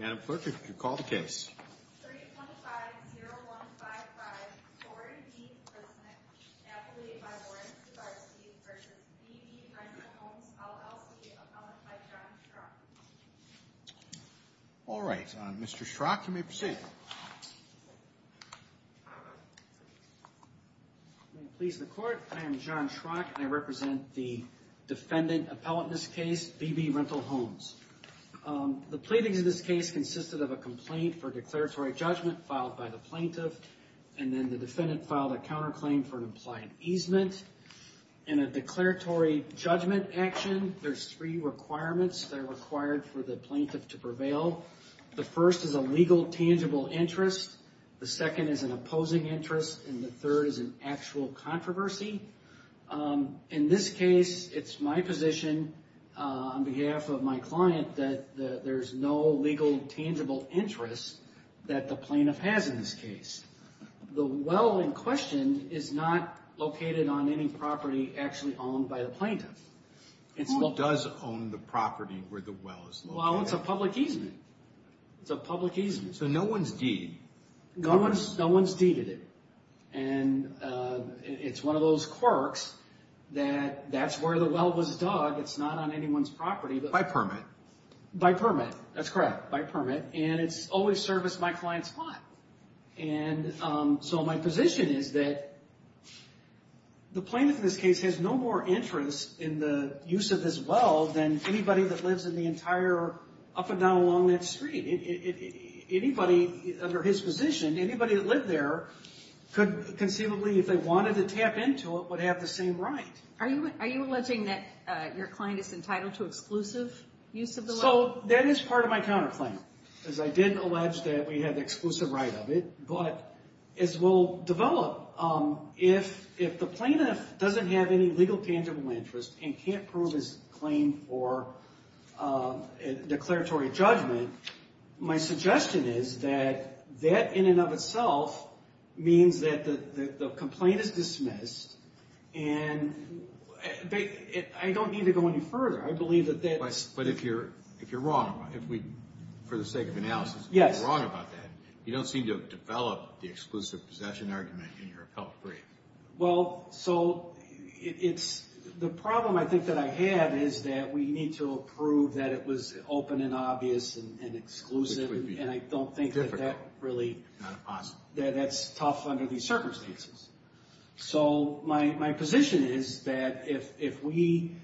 325-0155 Tory B. Briznick v. BB Rental Homes, LLC Alright, Mr. Schrock, you may proceed. May it please the court, I am John Schrock, and I represent the defendant appellate in this case, BB Rental Homes. The pleadings in this case consisted of a complaint for declaratory judgment filed by the plaintiff, and then the defendant filed a counterclaim for an implied easement. In a declaratory judgment action, there's three requirements that are required for the plaintiff to prevail. The first is a legal, tangible interest, the second is an opposing interest, and the third is an actual controversy. In this case, it's my position on behalf of my client that there's no legal, tangible interest that the plaintiff has in this case. The well in question is not located on any property actually owned by the plaintiff. Who does own the property where the well is located? Well, it's a public easement, it's a public easement. So no one's deed? No one's deeded it, and it's one of those quirks that that's where the well was dug, it's not on anyone's property. By permit? By permit, that's correct, by permit, and it's always serviced my client's plot. And so my position is that the plaintiff in this case has no more interest in the use of this well than anybody that lives in the entire, up and down along that street. Anybody under his position, anybody that lived there, could conceivably, if they wanted to tap into it, would have the same right. Are you alleging that your client is entitled to exclusive use of the well? So that is part of my counterclaim, because I did allege that we have the exclusive right of it, but as we'll develop, if the plaintiff doesn't have any legal, tangible interest and can't prove his claim for declaratory judgment, my suggestion is that that in and of itself means that the complaint is dismissed, and I don't need to go any further. I believe that that's... But if you're wrong, for the sake of analysis, if you're wrong about that, you don't seem to have developed the exclusive possession argument in your appellate brief. Well, so it's... The problem I think that I have is that we need to prove that it was open and obvious and exclusive, and I don't think that that really... That's tough under these circumstances. So my position is that if we...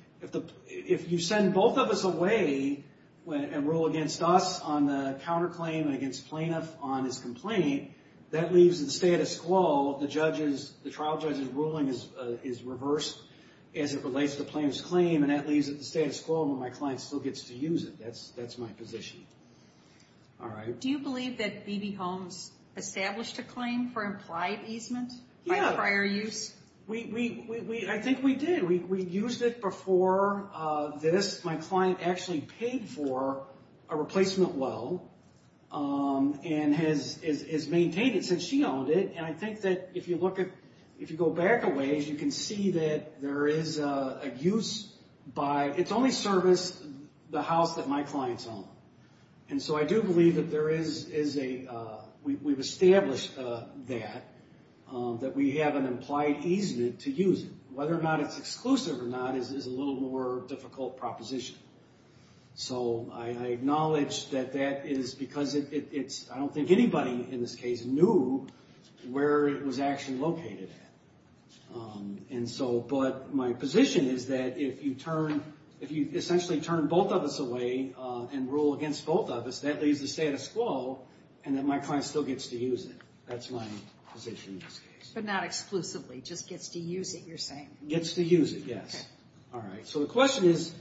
If you send both of us away and rule against us on the counterclaim and against plaintiff on his complaint, that leaves the status quo. The trial judge's ruling is reversed as it relates to the plaintiff's claim, and that leaves it in the status quo, and my client still gets to use it. That's my position. All right. Do you believe that B.B. Holmes established a claim for implied easement by prior use? I think we did. We used it before this. My client actually paid for a replacement well and has maintained it since she owned it, and I think that if you look at... If you go back a ways, you can see that there is a use by... It's only serviced the house that my clients own. And so I do believe that there is a... We've established that, that we have an implied easement to use it. Whether or not it's exclusive or not is a little more difficult proposition. So I acknowledge that that is because it's... I don't think anybody in this case knew where it was actually located at. And so... But my position is that if you turn... If you essentially turn both of us away and rule against both of us, that leaves the status quo and that my client still gets to use it. That's my position in this case. But not exclusively. Just gets to use it, you're saying? Gets to use it, yes. All right. So the question is,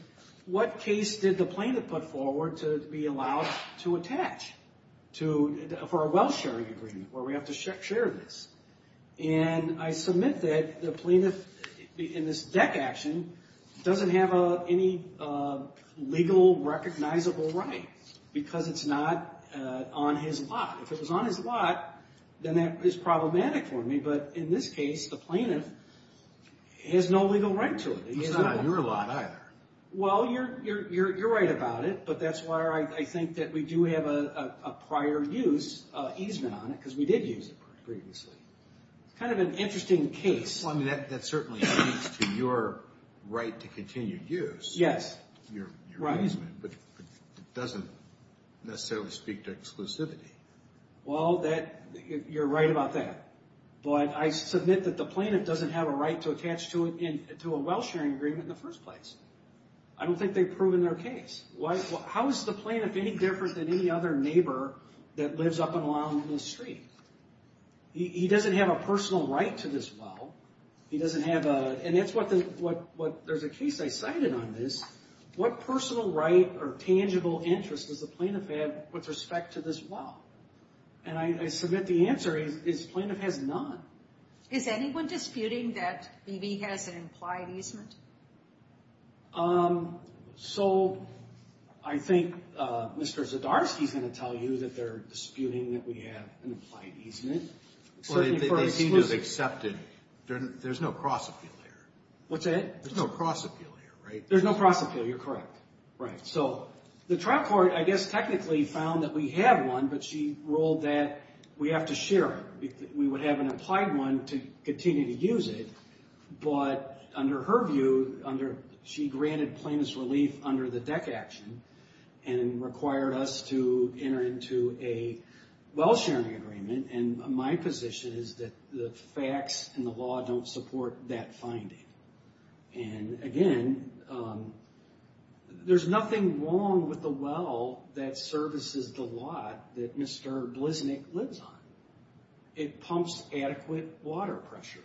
what case did the plaintiff put forward to be allowed to attach for a well-sharing agreement where we have to share this? And I submit that the plaintiff in this deck action doesn't have any legal recognizable right because it's not on his lot. If it was on his lot, then that is problematic for me. But in this case, the plaintiff has no legal right to it. It's not on your lot either. Well, you're right about it. But that's why I think that we do have a prior use easement on it because we did use it previously. It's kind of an interesting case. Well, I mean, that certainly speaks to your right to continued use. Yes. Your easement. But it doesn't necessarily speak to exclusivity. Well, you're right about that. But I submit that the plaintiff doesn't have a right to attach to a well-sharing agreement in the first place. I don't think they've proven their case. How is the plaintiff any different than any other neighbor that lives up and along this street? He doesn't have a personal right to this well. He doesn't have a – and that's what – there's a case I cited on this. What personal right or tangible interest does the plaintiff have with respect to this well? And I submit the answer is plaintiff has none. Is anyone disputing that BB has an implied easement? So I think Mr. Zdarsky is going to tell you that they're disputing that we have an implied easement. They seem to have accepted. There's no cross-appeal here. What's that? There's no cross-appeal here, right? There's no cross-appeal. You're correct. Right. So the trial court, I guess, technically found that we have one, but she ruled that we have to share it. We would have an implied one to continue to use it. But under her view, under – she granted plaintiff's relief under the DEC action and required us to enter into a well-sharing agreement. And my position is that the facts and the law don't support that finding. And, again, there's nothing wrong with the well that services the lot that Mr. Bliznik lives on. It pumps adequate water pressure.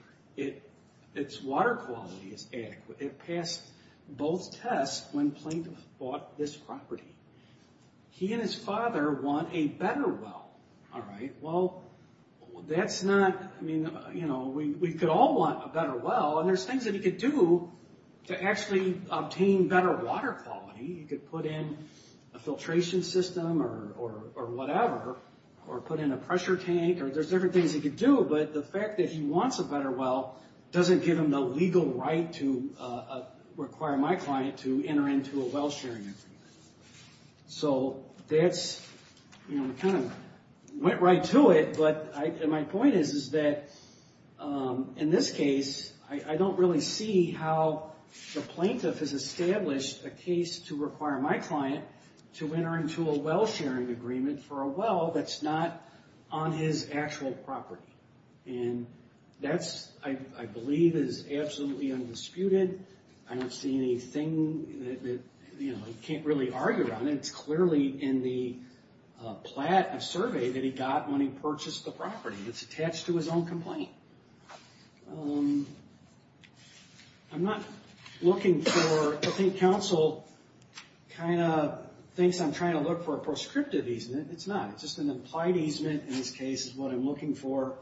Its water quality is adequate. It passed both tests when plaintiff bought this property. He and his father want a better well, all right? Well, that's not – I mean, you know, we could all want a better well, and there's things that he could do to actually obtain better water quality. He could put in a filtration system or whatever or put in a pressure tank. There's different things he could do, but the fact that he wants a better well doesn't give him the legal right to require my client to enter into a well-sharing agreement. So that's – you know, we kind of went right to it. But my point is that, in this case, I don't really see how the plaintiff has established a case to require my client to enter into a well-sharing agreement for a well that's not on his actual property. And that, I believe, is absolutely undisputed. I don't see anything that, you know, he can't really argue on. And it's clearly in the survey that he got when he purchased the property. It's attached to his own complaint. I'm not looking for – I think counsel kind of thinks I'm trying to look for a prescriptive easement. It's not. It's just an implied easement, in this case, is what I'm looking for,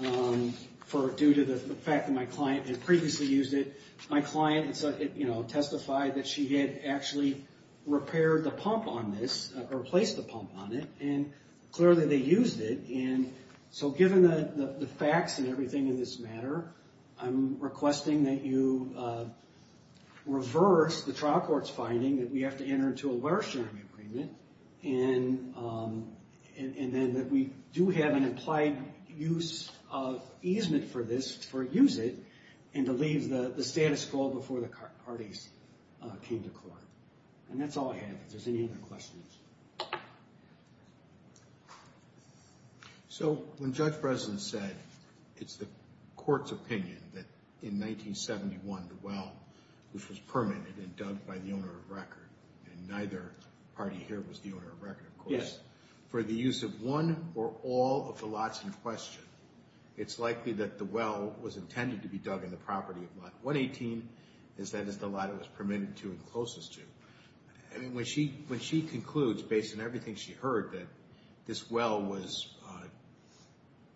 due to the fact that my client had previously used it. My client, you know, testified that she had actually repaired the pump on this, or replaced the pump on it, and clearly they used it. And so given the facts and everything in this matter, I'm requesting that you reverse the trial court's finding that we have to enter into a well-sharing agreement, and then that we do have an implied use of easement for this, for use it, and to leave the status quo before the parties came to court. And that's all I have, if there's any other questions. So when Judge Breslin said it's the court's opinion that in 1971 the well, which was permitted and dug by the owner of record, and neither party here was the owner of record, of course, for the use of one or all of the lots in question, it's likely that the well was intended to be dug in the property of lot 118, as that is the lot it was permitted to and closest to. And when she concludes, based on everything she heard, that this well was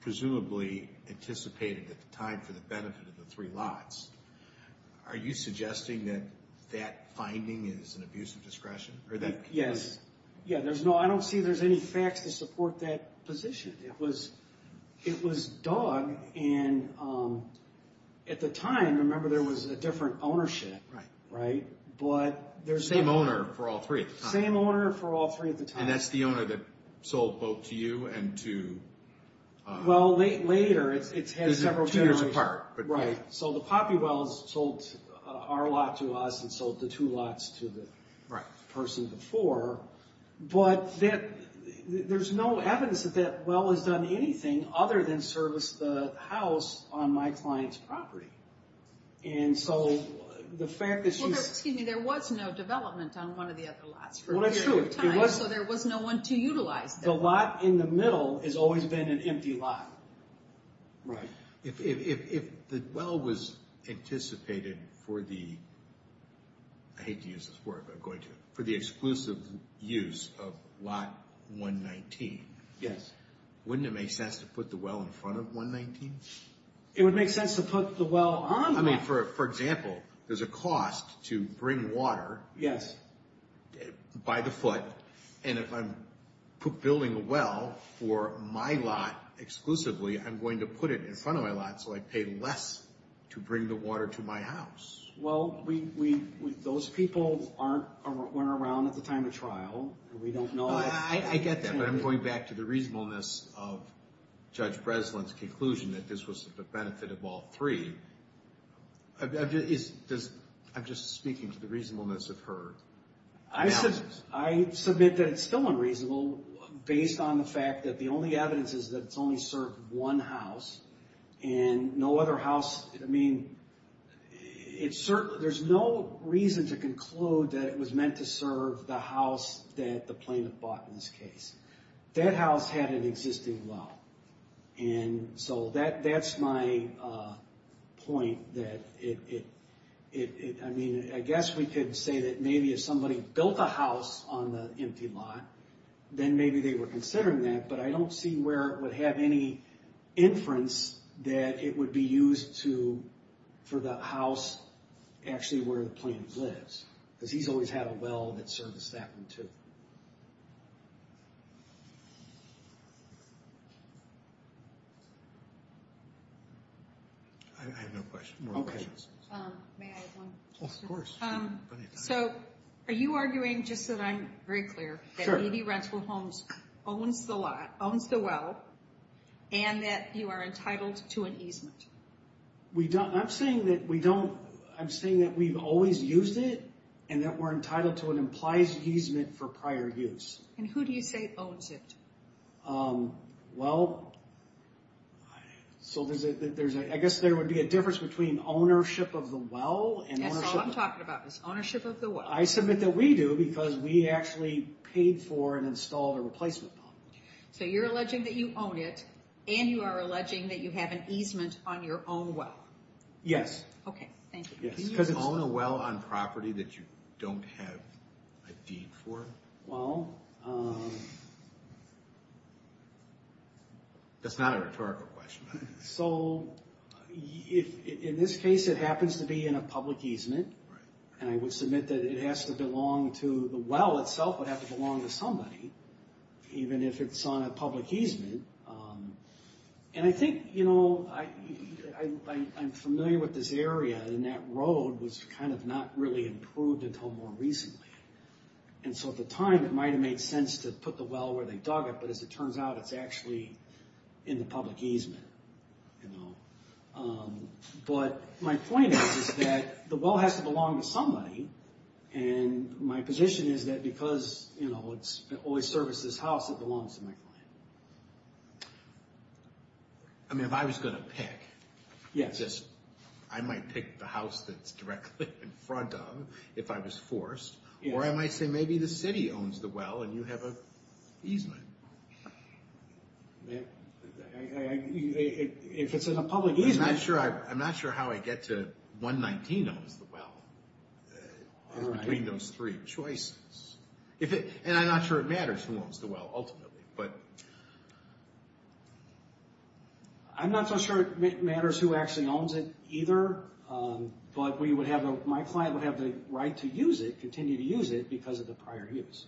presumably anticipated at the time for the benefit of the three lots, are you suggesting that that finding is an abuse of discretion? Yes. Yeah, I don't see there's any facts to support that position. It was dug, and at the time, remember, there was a different ownership, right? Same owner for all three at the time? Same owner for all three at the time. And that's the owner that sold both to you and to? Well, later, it's had several generations. Two years apart. Right. So the Poppy Wells sold our lot to us and sold the two lots to the person before. But there's no evidence that that well has done anything other than service the house on my client's property. And so the fact that she's— Well, excuse me, there was no development on one of the other lots for a period of time. Well, that's true. So there was no one to utilize the lot. The lot in the middle has always been an empty lot. Right. If the well was anticipated for the—I hate to use this word, but I'm going to— for the exclusive use of lot 119. Wouldn't it make sense to put the well in front of 119? It would make sense to put the well on the lot. I mean, for example, there's a cost to bring water by the foot, and if I'm building a well for my lot exclusively, I'm going to put it in front of my lot so I pay less to bring the water to my house. Well, those people weren't around at the time of trial. We don't know— I get that, but I'm going back to the reasonableness of Judge Breslin's conclusion that this was the benefit of all three. I'm just speaking to the reasonableness of her analysis. I submit that it's still unreasonable, based on the fact that the only evidence is that it's only served one house, and no other house—I mean, it's certainly— there's no reason to conclude that it was meant to serve the house that the plaintiff bought in this case. That house had an existing well, and so that's my point that it— I mean, I guess we could say that maybe if somebody built a house on the empty lot, then maybe they were considering that, but I don't see where it would have any inference that it would be used for the house actually where the plaintiff lives, because he's always had a well that serviced that one, too. I have no questions. May I have one? Of course. So, are you arguing, just so that I'm very clear, that EV Rental Homes owns the lot, owns the well, and that you are entitled to an easement? We don't—I'm saying that we don't—I'm saying that we've always used it, and that we're entitled to an implies easement for prior use. And who do you say owns it? Well, I guess there would be a difference between ownership of the well and ownership— That's all I'm talking about, is ownership of the well. I submit that we do, because we actually paid for and installed a replacement pump. So you're alleging that you own it, and you are alleging that you have an easement on your own well? Yes. Okay, thank you. Can you own a well on property that you don't have a deed for? Well... That's not a rhetorical question. So, in this case, it happens to be in a public easement, and I would submit that it has to belong to— the well itself would have to belong to somebody, even if it's on a public easement. And I think, you know, I'm familiar with this area, and that road was kind of not really improved until more recently. And so at the time, it might have made sense to put the well where they dug it, but as it turns out, it's actually in the public easement. But my point is that the well has to belong to somebody, and my position is that because, you know, it's always serviced this house, it belongs to my client. I mean, if I was going to pick, I might pick the house that's directly in front of, if I was forced, or I might say maybe the city owns the well, and you have an easement. If it's in a public easement— I'm not sure how I get to 119 owns the well. It's between those three choices. And I'm not sure it matters who owns the well ultimately, but— I'm not so sure it matters who actually owns it either, but my client would have the right to use it, continue to use it, because of the prior use.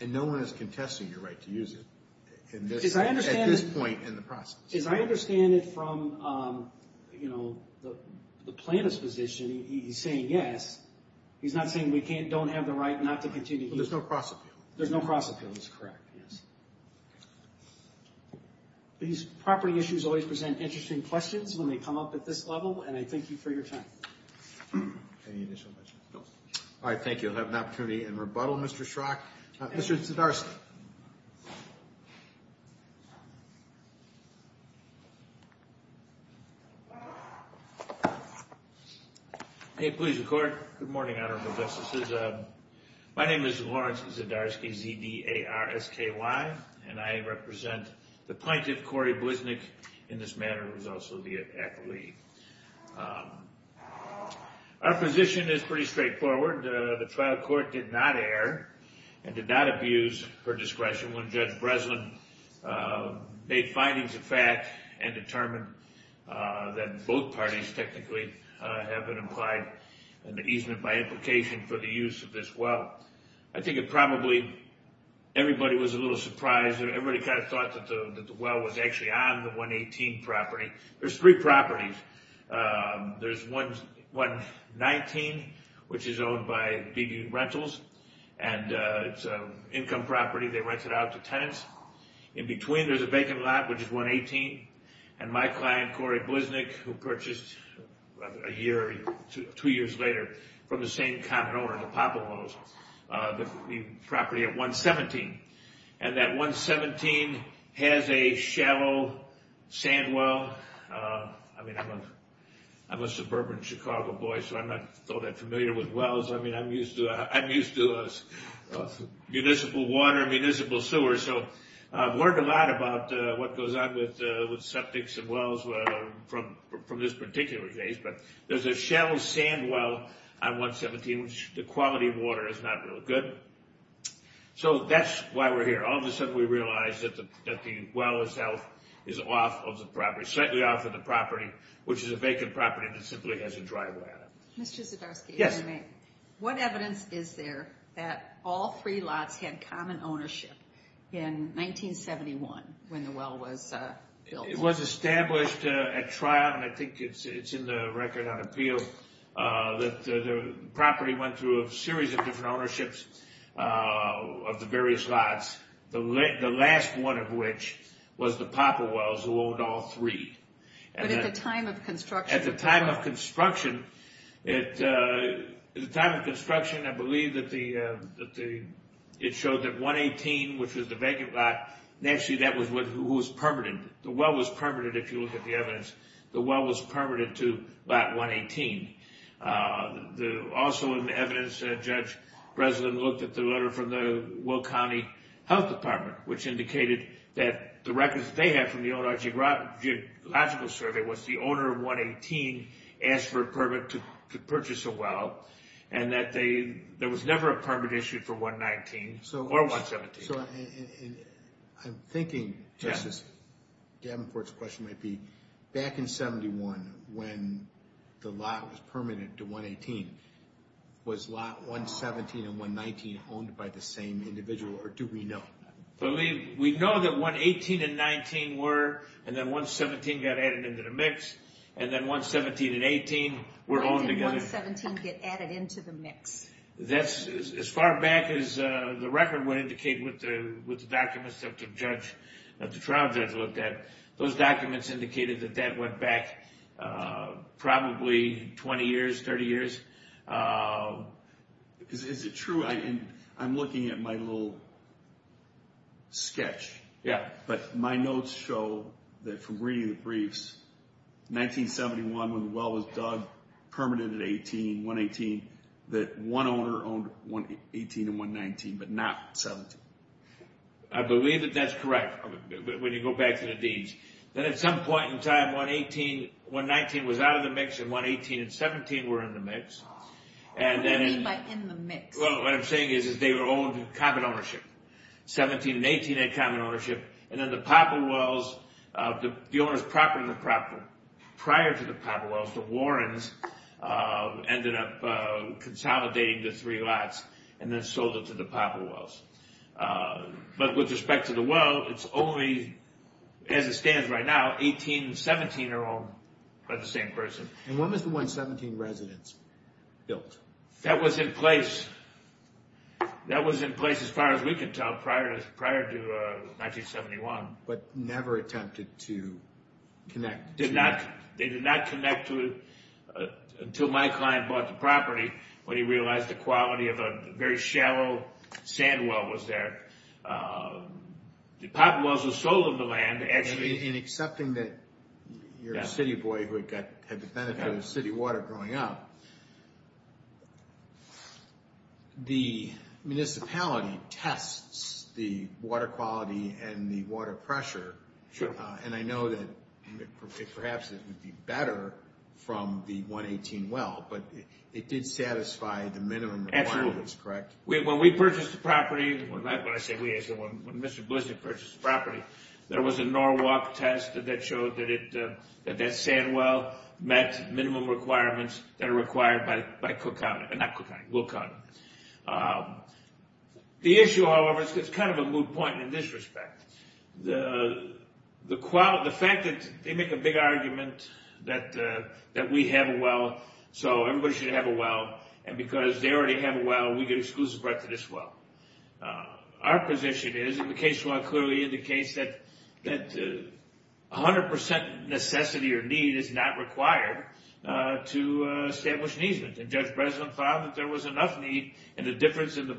And no one is contesting your right to use it at this point in the process. As I understand it from, you know, the plaintiff's position, he's saying yes. He's not saying we don't have the right not to continue to use it. There's no cross-appeal. There's no cross-appeal. That's correct, yes. These property issues always present interesting questions when they come up at this level, and I thank you for your time. Any initial questions? No. All right, thank you. I'll have an opportunity in rebuttal, Mr. Schrock. Mr. Zdarsky. Please record. Good morning, Honorable Justices. My name is Lawrence Zdarsky, Z-D-A-R-S-K-Y, and I represent the plaintiff, Corey Bliznik. In this matter, he's also the athlete. Our position is pretty straightforward. The trial court did not err and did not abuse her discretion when Judge Breslin made findings of fact and determined that both parties technically have been implied in the easement by implication for the use of this well. I think it probably everybody was a little surprised. Everybody kind of thought that the well was actually on the 118 property. There's three properties. There's 119, which is owned by DD Rentals, and it's an income property. They rent it out to tenants. In between, there's a vacant lot, which is 118, and my client, Corey Bliznik, who purchased a year or two years later from the same common owner, the Popolos, the property at 117. And that 117 has a shallow sand well. I mean, I'm a suburban Chicago boy, so I'm not familiar with wells. I mean, I'm used to municipal water, municipal sewer, so I've learned a lot about what goes on with septics and wells from this particular case. But there's a shallow sand well on 117, which the quality of water is not real good. So that's why we're here. All of a sudden, we realize that the well itself is off of the property, slightly off of the property, which is a vacant property that simply has a driveway on it. Yes. What evidence is there that all three lots had common ownership in 1971 when the well was built? It was established at trial, and I think it's in the record on appeal, that the property went through a series of different ownerships of the various lots, the last one of which was the Popolos, who owned all three. But at the time of construction? At the time of construction, I believe that it showed that 118, which was the vacant lot, actually that was who was permitted. The well was permitted, if you look at the evidence. The well was permitted to lot 118. Also in the evidence, Judge Breslin looked at the letter from the Will County Health Department, which indicated that the records that they had from the old geological survey was the owner of 118 asked for a permit to purchase a well, and that there was never a permit issued for 119 or 117. So I'm thinking, Justice Davenport's question might be, back in 71, when the lot was permitted to 118, was lot 117 and 119 owned by the same individual, or do we know? We know that 118 and 119 were, and then 117 got added into the mix, and then 117 and 118 were owned together. Why did 117 get added into the mix? That's as far back as the record would indicate with the documents that the trial judge looked at. Those documents indicated that that went back probably 20 years, 30 years. Is it true? I'm looking at my little sketch. Yeah, but my notes show that from reading the briefs, 1971, when the well was dug, permitted at 118, that one owner owned 118 and 119, but not 117. I believe that that's correct. When you go back to the deeds. Then at some point in time, 119 was out of the mix, and 118 and 117 were in the mix. What do you mean by in the mix? Well, what I'm saying is they were owned in common ownership. 117 and 118 had common ownership, and then the Poplar Wells, the owner's property in the property, prior to the Poplar Wells, the Warrens ended up consolidating the three lots and then sold it to the Poplar Wells. But with respect to the well, it's only, as it stands right now, 18 and 17 are owned by the same person. And when was the 117 residence built? That was in place. That was in place, as far as we can tell, prior to 1971. But never attempted to connect to that? They did not connect to it until my client bought the property when he realized the quality of a very shallow sand well was there. The Poplar Wells were the soul of the land. In accepting that you're a city boy who had the benefit of city water growing up, the municipality tests the water quality and the water pressure. And I know that perhaps it would be better from the 118 well, but it did satisfy the minimum requirements, correct? When we purchased the property, when I say we, I said when Mr. Blissett purchased the property, there was a Norwalk test that showed that that sand well met minimum requirements that are required by Cook County, not Cook County, Will County. The issue, however, is kind of a moot point in this respect. The fact that they make a big argument that we have a well so everybody should have a well, and because they already have a well, we get exclusive right to this well. Our position is, and the case law clearly indicates that 100% necessity or need is not required to establish an easement. And Judge Breslin found that there was enough need, and the difference in the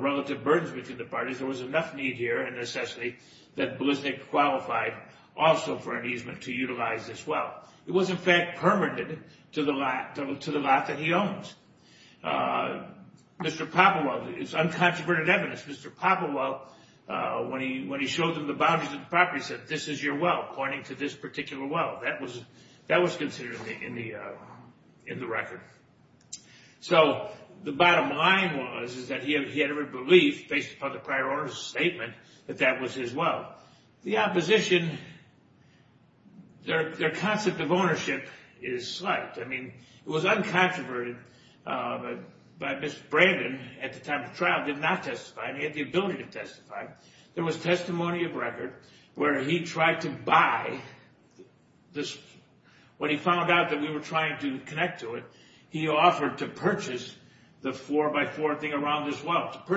relative burdens between the parties, there was enough need here and necessity that Blissett qualified also for an easement to utilize this well. It was, in fact, permitted to the lot that he owns. Mr. Poppenwell, it's uncontroverted evidence, Mr. Poppenwell, when he showed them the boundaries of the property, said this is your well pointing to this particular well. That was considered in the record. So the bottom line was that he had every belief, based upon the prior owner's statement, that that was his well. The opposition, their concept of ownership is slight. I mean, it was uncontroverted, but Mr. Brandon, at the time of the trial, did not testify. He had the ability to testify. There was testimony of record where he tried to buy this, when he found out that we were trying to connect to it, he offered to purchase the four-by-four thing around this well. He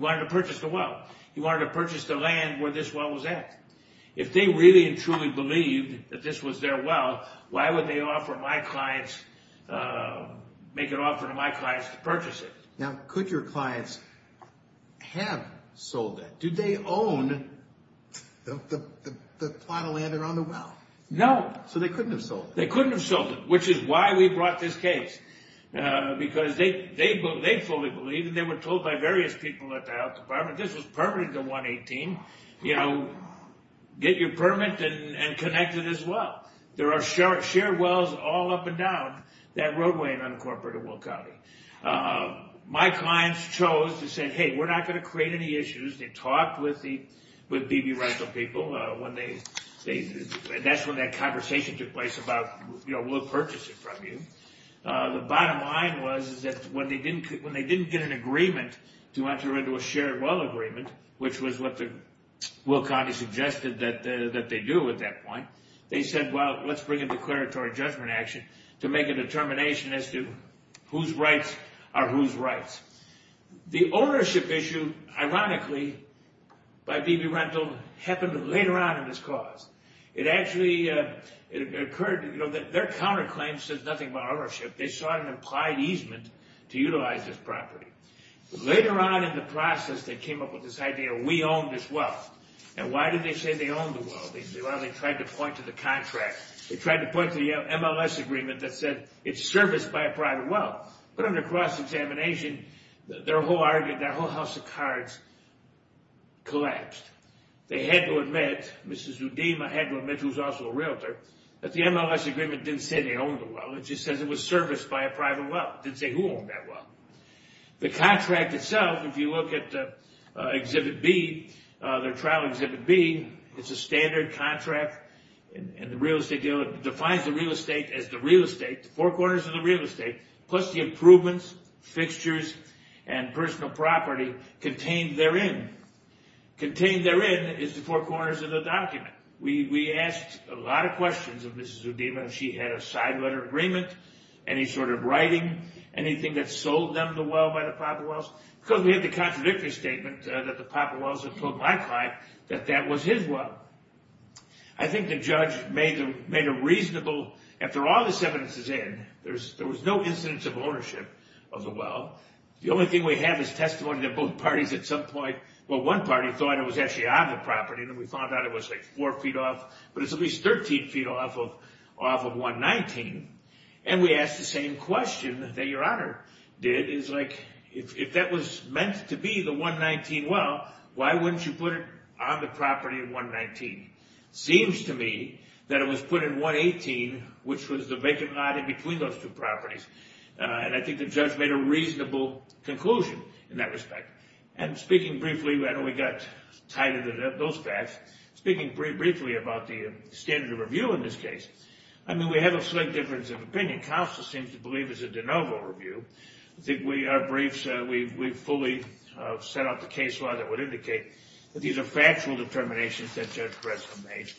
wanted to purchase the well. He wanted to purchase the land where this well was at. If they really and truly believed that this was their well, why would they make an offer to my clients to purchase it? Now, could your clients have sold it? Did they own the plot of land around the well? No. So they couldn't have sold it. They couldn't have sold it, which is why we brought this case. Because they fully believed, and they were told by various people at the Health Department, this was permitted to 118. You know, get your permit and connect it as well. There are shared wells all up and down that roadway in Uncorporated Will County. My clients chose to say, hey, we're not going to create any issues. They talked with the B.B. Rental people. That's when that conversation took place about, you know, we'll purchase it from you. The bottom line was that when they didn't get an agreement to enter into a shared well agreement, which was what Will County suggested that they do at that point, they said, well, let's bring in declaratory judgment action to make a determination as to whose rights are whose rights. The ownership issue, ironically, by B.B. Rental, happened later on in this cause. It actually occurred, you know, their counterclaim says nothing about ownership. They saw an implied easement to utilize this property. Later on in the process, they came up with this idea, we own this well. And why did they say they own the well? Well, they tried to point to the contract. They tried to point to the MLS agreement that said it's serviced by a private well. But under cross-examination, their whole argument, their whole house of cards collapsed. They had to admit, Mrs. Udima had to admit, who was also a realtor, that the MLS agreement didn't say they owned the well. It just says it was serviced by a private well. It didn't say who owned that well. The contract itself, if you look at Exhibit B, their trial Exhibit B, it's a standard contract, and the real estate dealer defines the real estate as the real estate, the four corners of the real estate, plus the improvements, fixtures, and personal property contained therein. Contained therein is the four corners of the document. We asked a lot of questions of Mrs. Udima. She had a side letter agreement, any sort of writing, anything that sold them the well by the private wells, because we had the contradictory statement that the private wells had told my client that that was his well. I think the judge made a reasonable, after all this evidence is in, there was no incidence of ownership of the well. The only thing we have is testimony that both parties at some point, well, one party thought it was actually on the property, and then we found out it was like four feet off, but it's at least 13 feet off of 119, and we asked the same question that Your Honor did, is like, if that was meant to be the 119 well, why wouldn't you put it on the property in 119? Seems to me that it was put in 118, which was the vacant lot in between those two properties, and I think the judge made a reasonable conclusion in that respect, and speaking briefly, I know we got tied into those facts, speaking briefly about the standard of review in this case. I mean, we have a slight difference of opinion. Counsel seems to believe it's a de novo review. I think our briefs, we fully set out the case law that would indicate that these are factual determinations that Judge Gretzky made,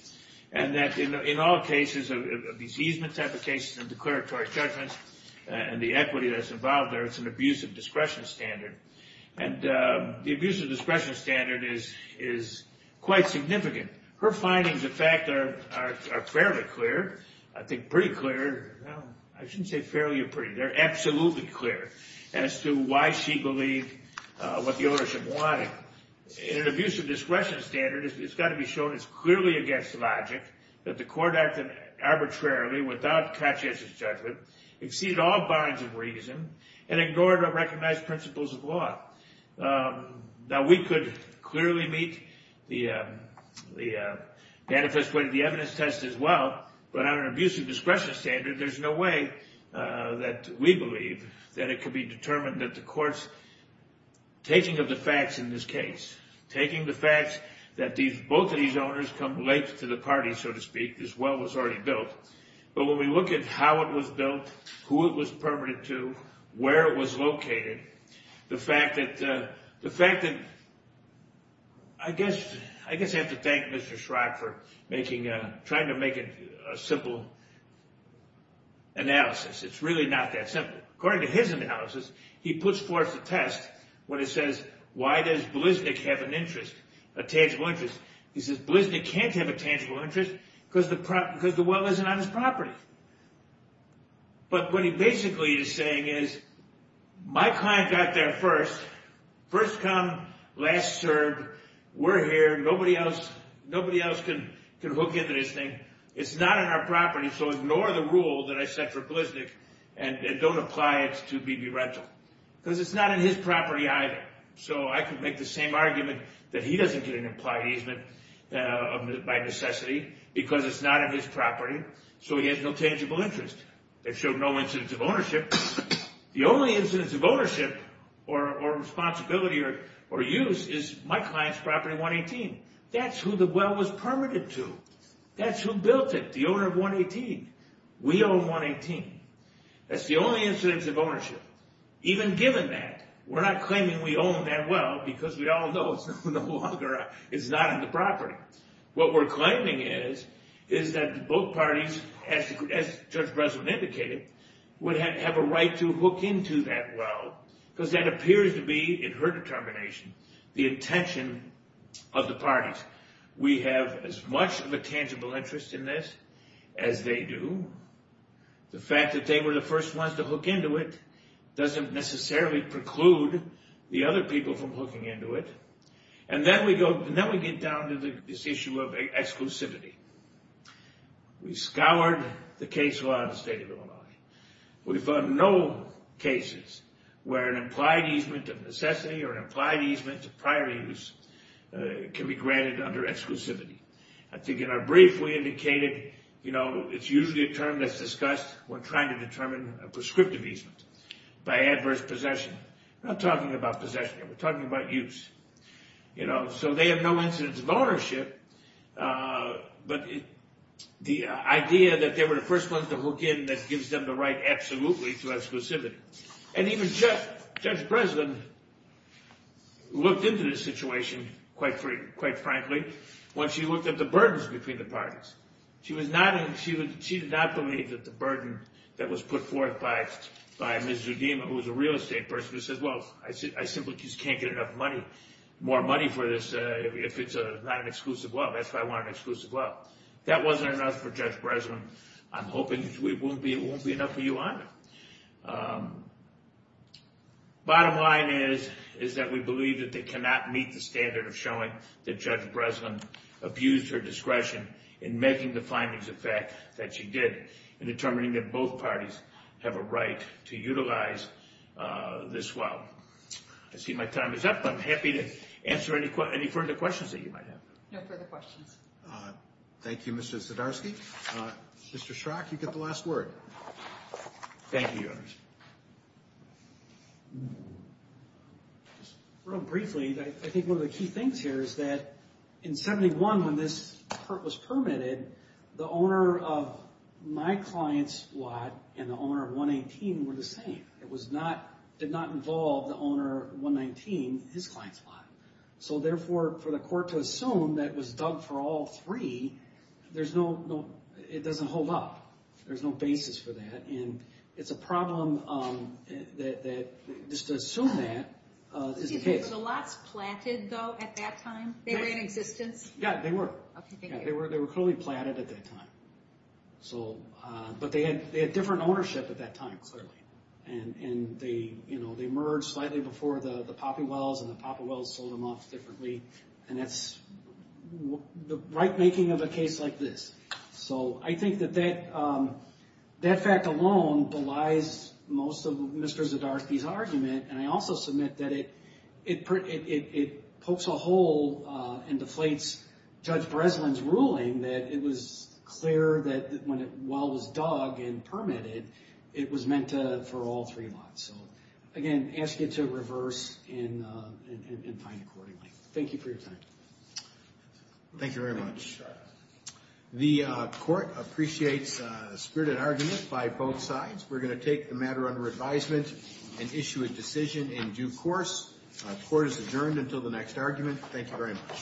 and that in all cases, these easement type of cases and declaratory judgments and the equity that's involved there, it's an abuse of discretion standard, and the abuse of discretion standard is quite significant. Her findings, in fact, are fairly clear. I think pretty clear. I shouldn't say fairly or pretty. They're absolutely clear as to why she believed what the ownership wanted. In an abuse of discretion standard, it's got to be shown it's clearly against logic that the court acted arbitrarily without conscientious judgment, exceeded all bounds of reason, and ignored or recognized principles of law. Now, we could clearly meet the manifest way to the evidence test as well, but on an abuse of discretion standard, there's no way that we believe that it could be determined that the court's taking of the facts in this case, taking the facts that both of these owners come late to the party, so to speak, this well was already built. But when we look at how it was built, who it was permitted to, where it was located, the fact that... I guess I have to thank Mr. Schrock for trying to make it a simple analysis. It's really not that simple. According to his analysis, he puts forth a test when it says, why does Bliznik have an interest, a tangible interest? He says, Bliznik can't have a tangible interest because the well isn't on his property. But what he basically is saying is, my client got there first, first come, last served, we're here, nobody else can hook into this thing, it's not on our property, so ignore the rule that I set for Bliznik and don't apply it to BB Rental. Because it's not on his property either. So I could make the same argument that he doesn't get an implied easement by necessity because it's not on his property, so he has no tangible interest. That showed no incidents of ownership. The only incidents of ownership or responsibility or use is my client's property, 118. That's who the well was permitted to. That's who built it, the owner of 118. We own 118. That's the only incidents of ownership. Even given that, we're not claiming we own that well because we all know it's no longer, it's not in the property. What we're claiming is, is that both parties, as Judge Breslin indicated, would have a right to hook into that well because that appears to be, in her determination, the intention of the parties. We have as much of a tangible interest in this as they do. The fact that they were the first ones to hook into it doesn't necessarily preclude the other people from hooking into it. And then we get down to this issue of exclusivity. We scoured the case law in the state of Illinois. We found no cases where an implied easement of necessity or an implied easement of prior use can be granted under exclusivity. I think in our brief, we indicated, you know, it's usually a term that's discussed when trying to determine a prescriptive easement by adverse possession. We're not talking about possession. We're talking about use. So they have no incidence of ownership, but the idea that they were the first ones to hook in that gives them the right absolutely to exclusivity. And even Judge Breslin looked into this situation quite frankly when she looked at the burdens between the parties. She did not believe that the burden that was put forth by Ms. Zudema, who was a real estate person, who said, well, I simply just can't get enough money, more money for this if it's not an exclusive loan. That's why I want an exclusive loan. That wasn't enough for Judge Breslin. I'm hoping it won't be enough for you either. Bottom line is that we believe that they cannot meet the standard of showing that Judge Breslin abused her discretion in making the findings of fact that she did in determining that both parties have a right to utilize this well. I see my time is up. I'm happy to answer any further questions that you might have. No further questions. Thank you, Mr. Zdarsky. Mr. Schrock, you get the last word. Thank you. Real briefly, I think one of the key things here is that in 71, when this was permitted, the owner of my client's lot and the owner of 118 were the same. It did not involve the owner of 119 in his client's lot. Therefore, for the court to assume that it was dug for all three, it doesn't hold up. There's no basis for that. It's a problem that just to assume that is the case. Were the lots planted, though, at that time? They were in existence? Yeah, they were. Okay, thank you. They were clearly planted at that time. But they had different ownership at that time, clearly. They merged slightly before the Poppy Wells, and the Poppy Wells sold them off differently. That's the right-making of a case like this. I think that that fact alone belies most of Mr. Zdarsky's argument. I also submit that it pokes a hole and deflates Judge Breslin's ruling that it was clear that while it was dug and permitted, it was meant for all three lots. Again, ask you to reverse and find accordingly. Thank you for your time. Thank you very much. The court appreciates a spirited argument by both sides. We're going to take the matter under advisement and issue a decision in due course. The court is adjourned until the next argument. Thank you very much.